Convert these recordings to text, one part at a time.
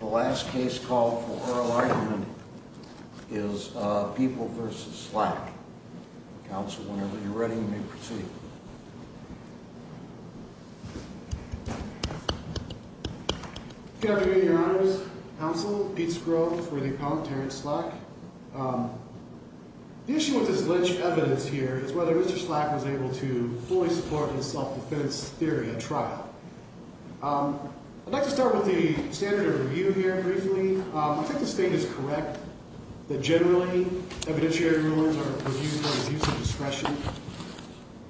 The last case call for oral argument is People v. Slack. Council, whenever you're ready, you may proceed. Good afternoon, Your Honors. Council, Pete Skrog for the Appellant, Terrence Slack. The issue with this lynched evidence here is whether Mr. Slack was able to fully support his self-defense theory at trial. I'd like to start with the standard of review here briefly. I think the State is correct that generally evidentiary rulings are reviewed for abuse of discretion.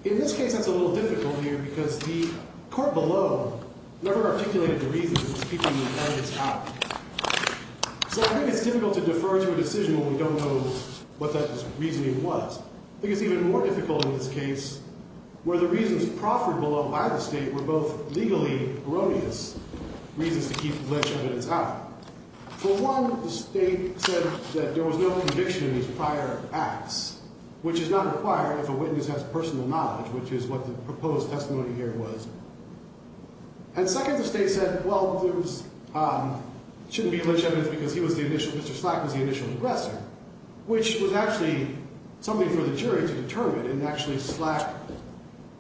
In this case, that's a little difficult here because the court below never articulated the reasons in speaking the evidence out. So I think it's difficult to defer to a decision when we don't know what that reasoning was. I think it's even more difficult in this case where the reasons proffered below by the State were both legally erroneous reasons to keep the lynched evidence out. For one, the State said that there was no conviction in these prior acts, which is not required if a witness has personal knowledge, which is what the proposed testimony here was. And second, the State said, well, it shouldn't be lynched evidence because Mr. Slack was the initial aggressor, which was actually something for the jury to determine, and actually Slack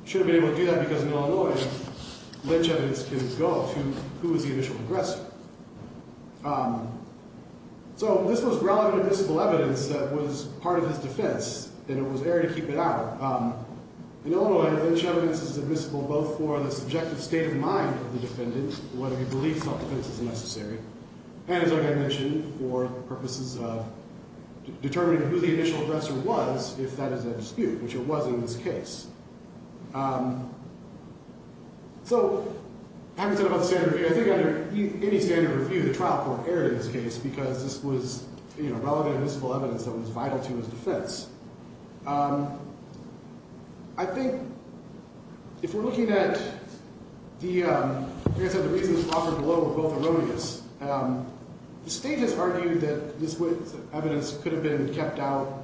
should have been able to do that because in Illinois, lynched evidence can go up to who was the initial aggressor. So this was relevant admissible evidence that was part of his defense, and it was air to keep it out. In Illinois, lynched evidence is admissible both for the subjective state of mind of the defendant, whether he believes self-defense is necessary, and as I mentioned, for purposes of determining who the initial aggressor was, if that is a dispute, which it was in this case. So having said about the standard review, I think under any standard review, the trial court erred in this case because this was relevant admissible evidence that was vital to his defense. I think if we're looking at the reasons offered below are both erroneous. The State has argued that this evidence could have been kept out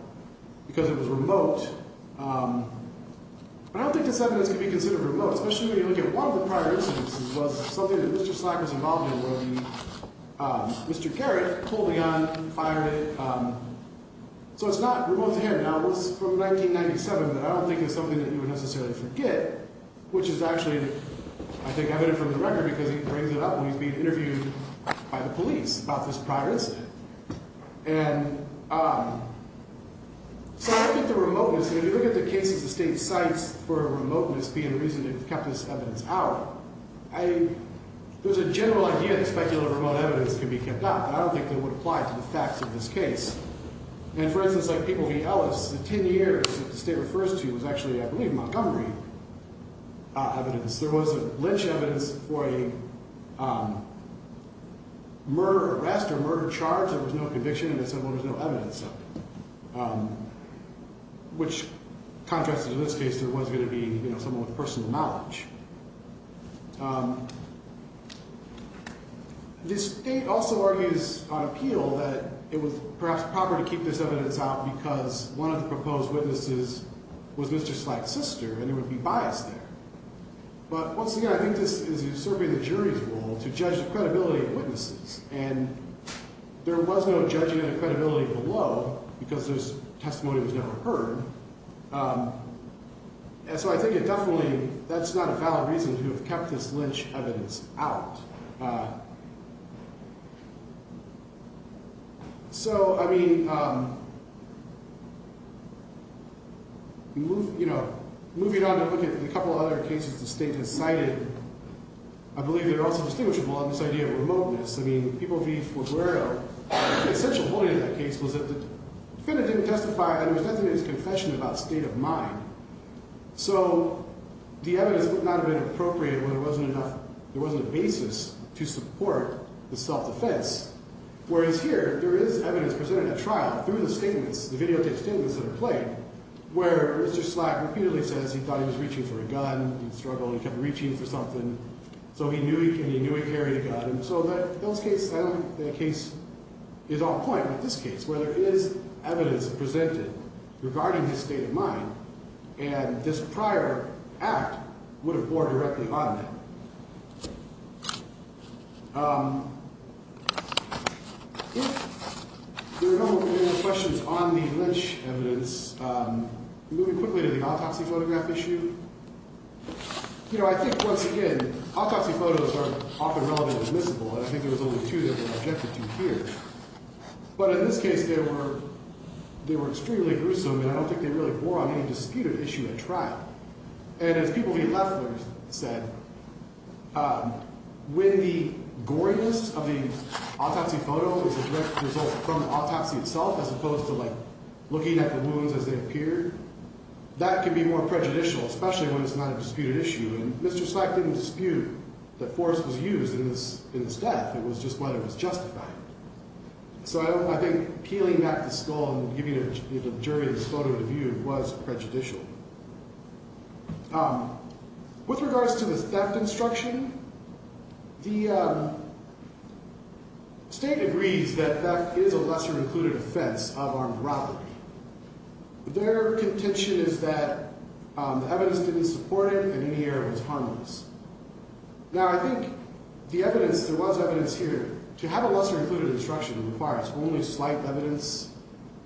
because it was remote, but I don't think this evidence can be considered remote, especially when you look at one of the prior instances was something that Mr. Slack was involved in, where Mr. Garrett pulled the gun, fired it. So it's not remote to him. Now, this is from 1997, but I don't think it's something that you would necessarily forget, which is actually, I think, evident from the record, because he brings it up when he's being interviewed by the police about this prior incident. And so I look at the remoteness here. If you look at the cases the State cites for remoteness being the reason they've kept this evidence out, there's a general idea that specular remote evidence can be kept out, but I don't think that would apply to the facts of this case. And for instance, like People v. Ellis, the 10 years that the State refers to was actually, I believe, Montgomery evidence. There was a Lynch evidence for a murder arrest or murder charge. There was no conviction, and they said, well, there's no evidence of it, which contrasted to this case, there was going to be someone with personal knowledge. The State also argues on appeal that it was perhaps proper to keep this evidence out because one of the proposed witnesses was Mr. Slack's sister, and it would be biased there. But once again, I think this is certainly the jury's role to judge the credibility of witnesses, and there was no judging of the credibility below because this testimony was never heard. And so I think it definitely, that's not a valid reason to have kept this Lynch evidence out. So, I mean, moving on to look at a couple of other cases the State has cited, I believe they're also distinguishable on this idea of remoteness. I mean, People v. Forguero, the essential point of that case was that the defendant didn't testify, and there was nothing in his confession about state of mind. So the evidence would not have been appropriate when there wasn't enough, there wasn't a basis to support the self-defense. Whereas here, there is evidence presented at trial through the statements, the videotape statements that are played, where Mr. Slack repeatedly says he thought he was reaching for a gun. He struggled, he kept reaching for something. So he knew he carried a gun. And so that case, I don't think that case is off point. But this case, where there is evidence presented regarding his state of mind, and this prior act would have bore directly on that. If there are no more questions on the Lynch evidence, moving quickly to the autopsy photograph issue. You know, I think once again, autopsy photos are often relevant and admissible, and I think there was only two that were objected to here. But in this case, they were extremely gruesome, and I don't think they really bore on any disputed issue at trial. And as People v. Leffler said, when the goriness of the autopsy photo was a direct result from the autopsy itself, as opposed to looking at the wounds as they appeared, that can be more prejudicial, especially when it's not a disputed issue. And Mr. Slack didn't dispute that force was used in this death. It was just whether it was justified. So I think peeling back the skull and giving the jury this photo to view was prejudicial. With regards to the theft instruction, the state agrees that theft is a lesser-included offense of armed robbery. Their contention is that the evidence didn't support it, and in the end, it was harmless. Now, I think the evidence, there was evidence here. To have a lesser-included instruction requires only slight evidence.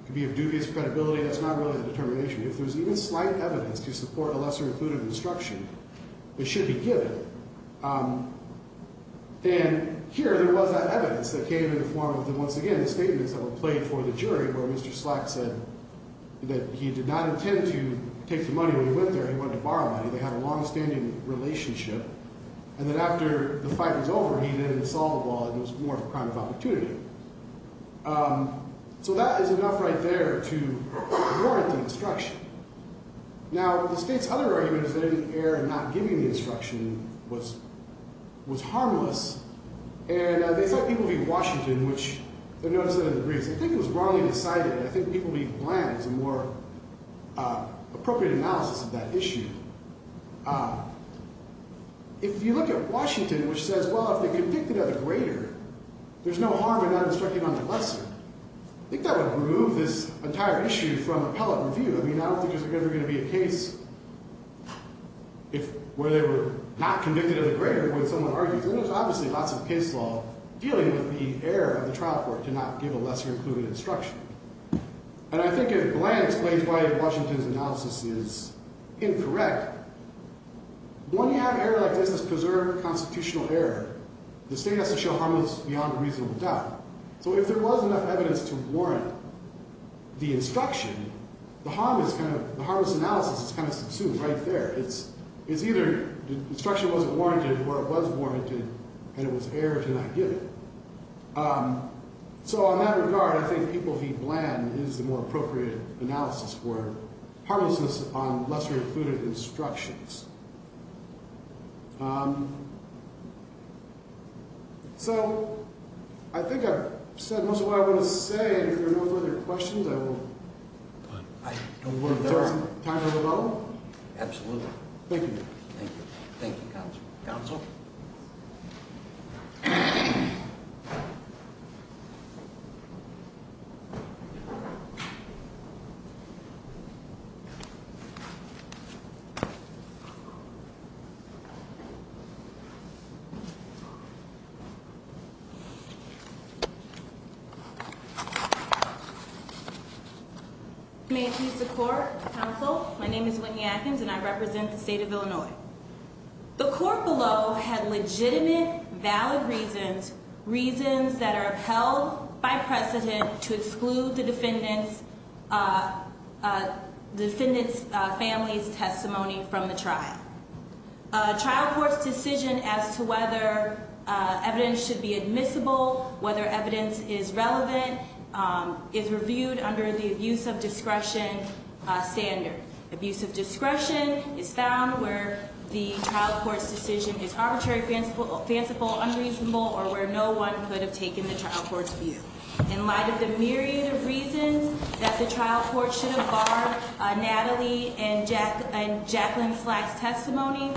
It could be of dubious credibility. That's not really a determination. If there's even slight evidence to support a lesser-included instruction, it should be given. And here, there was that evidence that came in the form of, once again, the statements that were played for the jury where Mr. Slack said that he did not intend to take the money when he went there. He wanted to borrow money. They had a longstanding relationship. And then after the fight was over, he then saw the ball, and it was more of a crime of opportunity. So that is enough right there to warrant the instruction. Now, the state's other argument is that in the air, not giving the instruction was harmless. And they thought people would be in Washington, which they noticed that in the briefs. They think it was wrongly decided. I think people would be bland. It's a more appropriate analysis of that issue. If you look at Washington, which says, well, if they're convicted of the greater, there's no harm in not instructing on the lesser. I think that would remove this entire issue from appellate review. I mean, I don't think there's ever going to be a case where they were not convicted of the greater when someone argues. There's obviously lots of case law dealing with the air of the trial court to not give a lesser-included instruction. And I think a bland explains why Washington's analysis is incorrect. When you have an error like this, this preserved constitutional error, the state has to show harmless beyond reasonable doubt. So if there was enough evidence to warrant the instruction, the harmless analysis is kind of subsumed right there. It's either the instruction wasn't warranted, or it was warranted, and it was error to not give it. So on that regard, I think people be bland is the more appropriate analysis for harmlessness on lesser-included instructions. So I think I've said most of what I want to say. If there are no further questions, I will take some time to develop. Absolutely. Thank you. Thank you. Thank you, counsel. Counsel. May it please the court. Counsel, my name is Whitney Atkins, and I represent the state of Illinois. The court below had legitimate, valid reasons that are held by precedent to exclude the defendant's family's testimony from the trial. A trial court's decision as to whether evidence should be admissible, whether evidence is relevant, is reviewed under the abuse of discretion standard. Abuse of discretion is found where the trial court's decision is arbitrary, fanciful, unreasonable, or where no one could have taken the trial court's view. In light of the myriad of reasons that the trial court should have barred Natalie and Jacqueline Slack's testimony,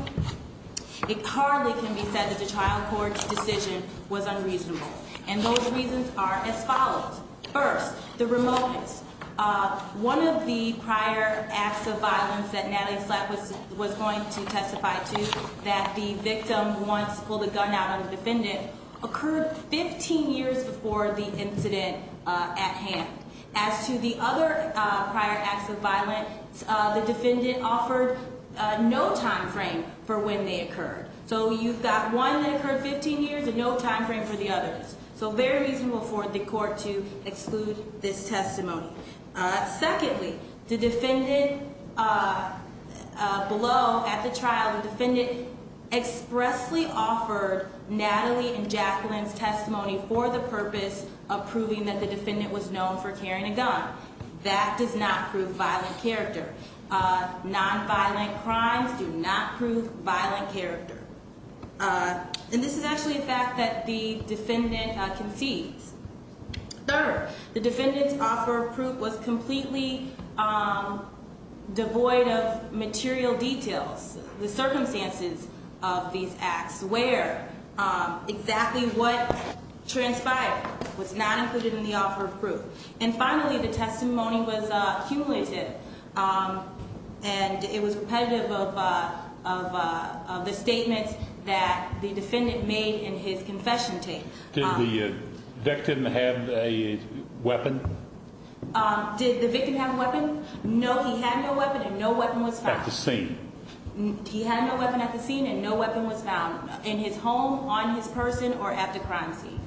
it hardly can be said that the trial court's decision was unreasonable. And those reasons are as follows. First, the remoteness. One of the prior acts of violence that Natalie Slack was going to testify to, that the victim once pulled a gun out on the defendant, occurred 15 years before the incident at hand. As to the other prior acts of violence, the defendant offered no time frame for when they occurred. So you've got one that occurred 15 years and no time frame for the others. So very reasonable for the court to exclude this testimony. Secondly, the defendant below at the trial, the defendant expressly offered Natalie and Jacqueline's testimony for the purpose of proving that the defendant was known for carrying a gun. That does not prove violent character. Nonviolent crimes do not prove violent character. And this is actually a fact that the defendant concedes. Third, the defendant's offer of proof was completely devoid of material details. The circumstances of these acts where exactly what transpired was not included in the offer of proof. And finally, the testimony was cumulative. And it was repetitive of the statements that the defendant made in his confession tape. Did the victim have a weapon? Did the victim have a weapon? No, he had no weapon and no weapon was found. At the scene. He had no weapon at the scene and no weapon was found. In his home, on his person, or at the crime scene.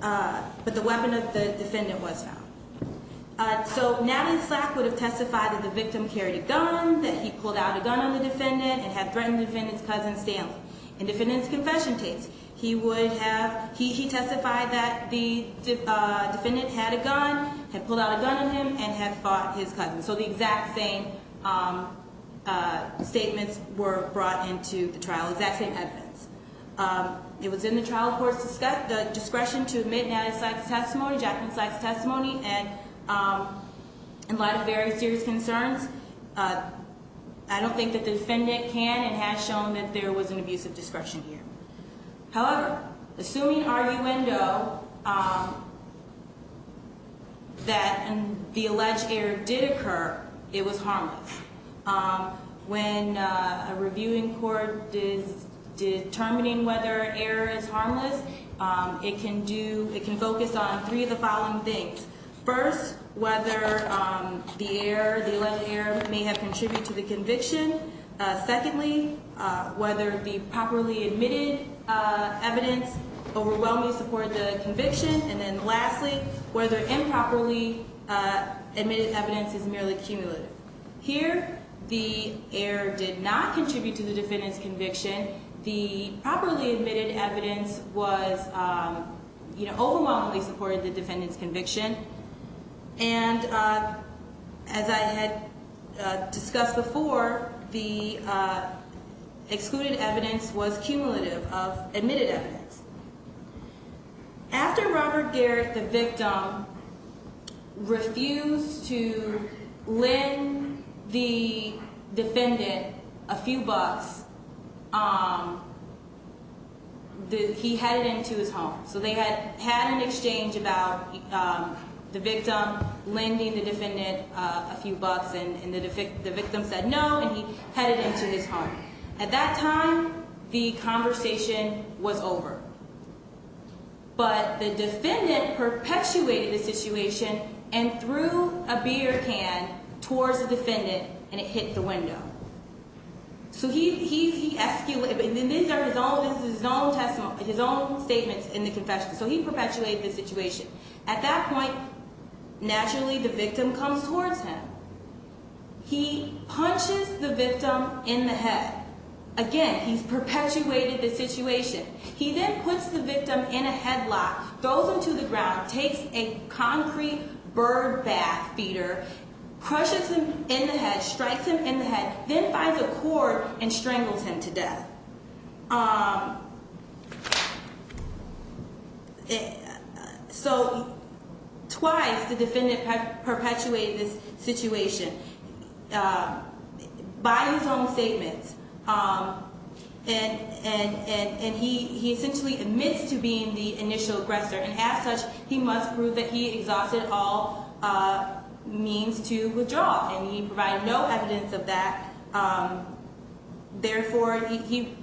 But the weapon of the defendant was found. So Natalie Slack would have testified that the victim carried a gun, that he pulled out a gun on the defendant, and had threatened the defendant's cousin Stanley. In the defendant's confession tapes, he testified that the defendant had a gun, had pulled out a gun on him, and had fought his cousin. So the exact same statements were brought into the trial, exact same evidence. It was in the trial court's discretion to admit Natalie Slack's testimony, Jacqueline Slack's testimony. And in light of very serious concerns, I don't think that the defendant can and has shown that there was an abuse of discretion here. However, assuming arguendo, that the alleged error did occur, it was harmless. When a reviewing court is determining whether error is harmless, it can do, it can focus on three of the following things. First, whether the error, the alleged error may have contributed to the conviction. Secondly, whether the properly admitted evidence overwhelmingly supported the conviction. And then lastly, whether improperly admitted evidence is merely cumulative. Here, the error did not contribute to the defendant's conviction. The properly admitted evidence was, you know, overwhelmingly supported the defendant's conviction. And as I had discussed before, the excluded evidence was cumulative of admitted evidence. After Robert Garrett, the victim, refused to lend the defendant a few bucks, he headed into his home. So they had had an exchange about the victim lending the defendant a few bucks, and the victim said no, and he headed into his home. At that time, the conversation was over. But the defendant perpetuated the situation and threw a beer can towards the defendant, and it hit the window. So he, he, he, and these are his own, this is his own testimony, his own statements in the confession. So he perpetuated the situation. At that point, naturally, the victim comes towards him. He punches the victim in the head. Again, he's perpetuated the situation. He then puts the victim in a headlock, throws him to the ground, takes a concrete bird bath feeder, crushes him in the head, strikes him in the head, then finds a cord and strangles him to death. So twice the defendant perpetuated this situation by his own statements, and he essentially admits to being the initial aggressor. And as such, he must prove that he exhausted all means to withdraw, and he provided no evidence of that. Therefore, he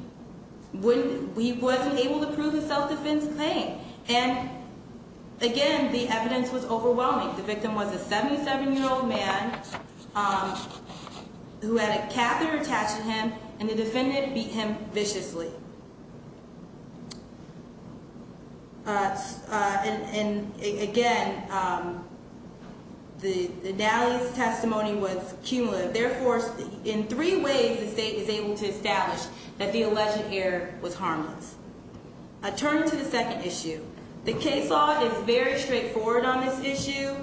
wouldn't, he wasn't able to prove his self-defense claim. And again, the evidence was overwhelming. The victim was a 77-year-old man who had a catheter attached to him, and the defendant beat him viciously. And, and again, the, the Nally's testimony was cumulative. But therefore, in three ways, the state was able to establish that the alleged error was harmless. I turn to the second issue. The case law is very straightforward on this issue.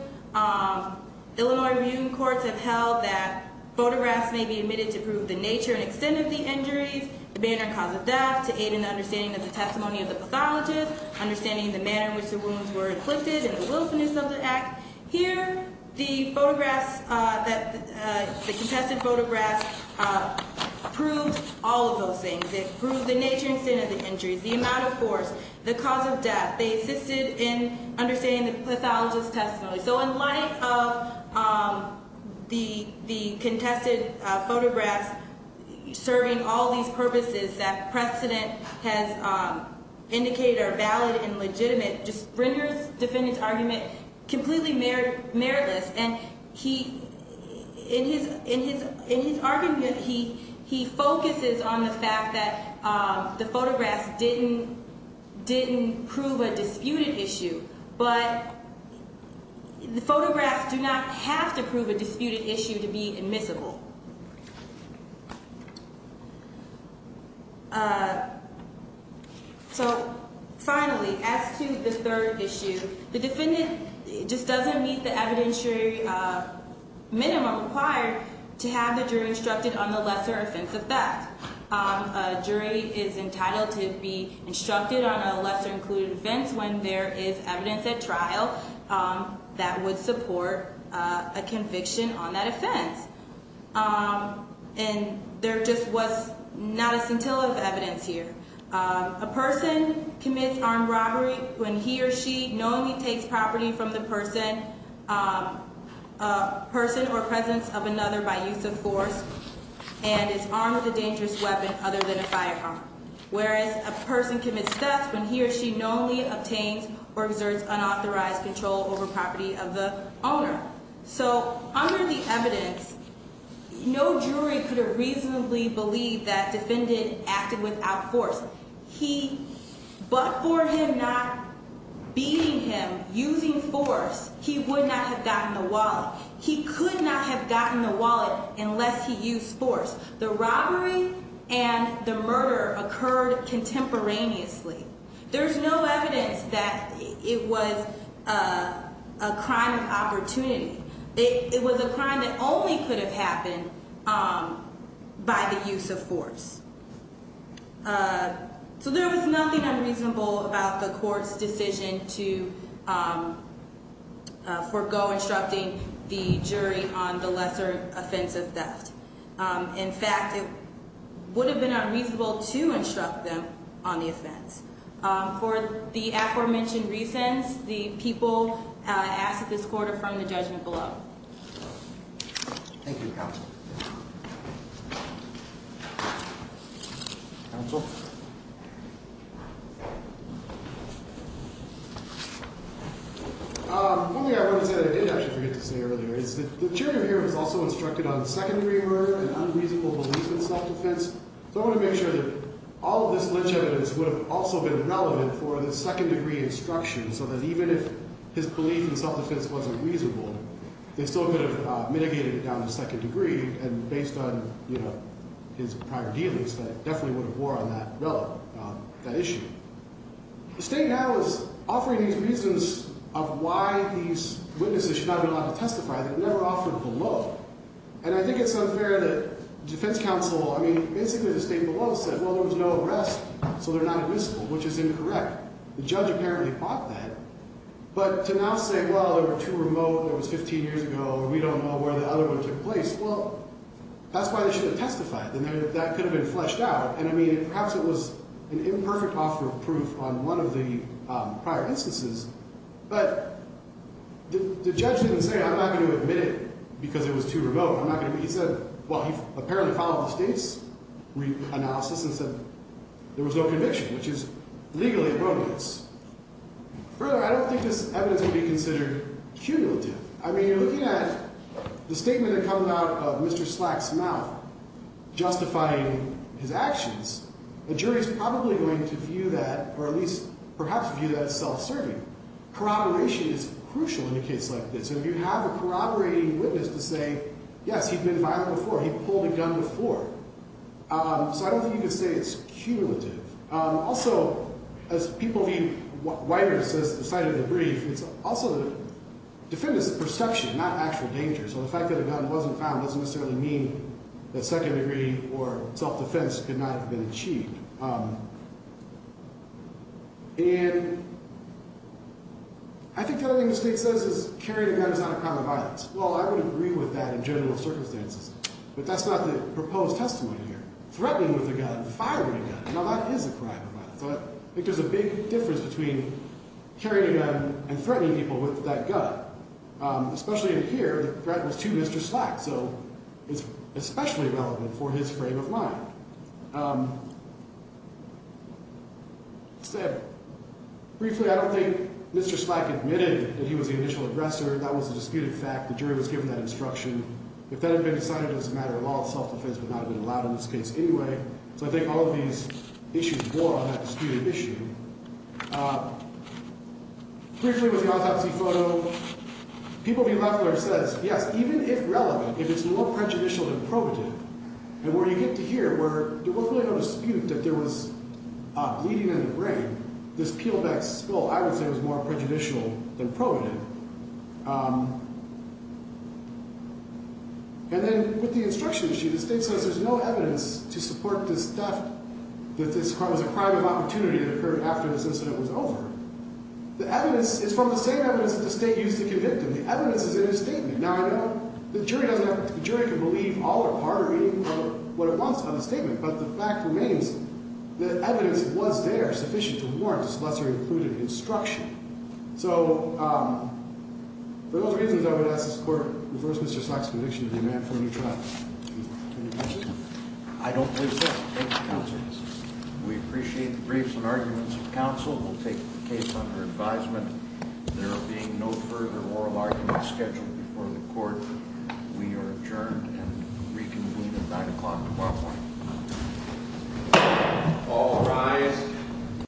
Illinois rebuting courts have held that photographs may be admitted to prove the nature and extent of the injuries, the manner and cause of death, to aid in the understanding of the testimony of the pathologist, understanding the manner in which the wounds were inflicted, and the wilfulness of the act. Here, the photographs that, the contested photographs proved all of those things. It proved the nature and extent of the injuries, the amount of force, the cause of death. They assisted in understanding the pathologist's testimony. So in light of the, the contested photographs serving all these purposes that precedent has indicated are valid and legitimate, just renders defendant's argument completely merit, meritless. And he, in his, in his, in his argument, he, he focuses on the fact that the photographs didn't, didn't prove a disputed issue. But the photographs do not have to prove a disputed issue to be admissible. So finally, as to the third issue, the defendant just doesn't meet the evidentiary minimum required to have the jury instructed on the lesser offense of theft. A jury is entitled to be instructed on a lesser included offense when there is evidence at trial that would support a conviction on that offense. And there just was not a scintilla of evidence here. A person commits armed robbery when he or she knowingly takes property from the person, person or presence of another by use of force and is armed with a dangerous weapon other than a firearm. Whereas a person commits theft when he or she knowingly obtains or exerts unauthorized control over property of the owner. So under the evidence, no jury could have reasonably believed that defendant acted without force. He, but for him not beating him using force, he would not have gotten the wallet. He could not have gotten the wallet unless he used force. The robbery and the murder occurred contemporaneously. There's no evidence that it was a crime of opportunity. It was a crime that only could have happened by the use of force. So there was nothing unreasonable about the court's decision to forego instructing the jury on the lesser offense of theft. In fact, it would have been unreasonable to instruct them on the offense. For the aforementioned reasons, the people asked this quarter from the judgment below. Thank you, Counsel. Counsel. One thing I want to say that I did actually forget to say earlier is that the jury here was also instructed on secondary murder and unreasonable belief in self-defense. So I want to make sure that all of this lynch evidence would have also been relevant for the second degree instruction, so that even if his belief in self-defense wasn't reasonable, they still could have mitigated it down to second degree. And based on, you know, his prior dealings, that definitely would have wore on that issue. The state now is offering these reasons of why these witnesses should not be allowed to testify that were never offered below. And I think it's unfair that the defense counsel, I mean, basically the state below said, well, there was no arrest, so they're not admissible, which is incorrect. The judge apparently bought that. But to now say, well, they were too remote, it was 15 years ago, we don't know where the other one took place, well, that's why they shouldn't testify. That could have been fleshed out. And, I mean, perhaps it was an imperfect offer of proof on one of the prior instances. But the judge didn't say, I'm not going to admit it because it was too remote. He said, well, he apparently followed the state's analysis and said there was no conviction, which is legally erroneous. Further, I don't think this evidence would be considered cumulative. I mean, you're looking at the statement that comes out of Mr. Slack's mouth justifying his actions. The jury is probably going to view that, or at least perhaps view that as self-serving. Corroboration is crucial in a case like this. And if you have a corroborating witness to say, yes, he'd been violent before, he'd pulled a gun before. So I don't think you could say it's cumulative. Also, as people view wider than just the sight of the brief, it's also the defendant's perception, not actual danger. So the fact that a gun wasn't found doesn't necessarily mean that second degree or self-defense could not have been achieved. And I think the other thing the state says is carrying a gun is not a crime of violence. Well, I would agree with that in general circumstances. But that's not the proposed testimony here. Threatening with a gun, firing a gun, now that is a crime of violence. So I think there's a big difference between carrying a gun and threatening people with that gun. Especially in here, the threat was to Mr. Slack. So it's especially relevant for his frame of mind. Briefly, I don't think Mr. Slack admitted that he was the initial aggressor. That was a disputed fact. The jury was given that instruction. If that had been decided as a matter of law, self-defense would not have been allowed in this case anyway. So I think all of these issues bore on that disputed issue. Briefly, with the autopsy photo, people be left where it says, yes, even if relevant, if it's more prejudicial than probative, and where you get to here where there was really no dispute that there was bleeding in the brain, this peelback spill, I would say, was more prejudicial than probative. And then with the instruction issue, the state says there's no evidence to support this theft, that this was a crime of opportunity that occurred after this incident was over. The evidence is from the same evidence that the state used to convict him. The evidence is in his statement. Now, I know the jury can believe all or part or even what it wants on the statement, but the fact remains that evidence was there sufficient to warrant this lesser-included instruction. So for those reasons, I would ask this Court to reverse Mr. Slack's conviction and remand for a new trial. I don't believe so. Thank you, counsel. We appreciate the briefs and arguments of counsel. We'll take the case under advisement. There will be no further oral arguments scheduled before the Court. We are adjourned and reconvene at 9 o'clock tomorrow morning. All rise.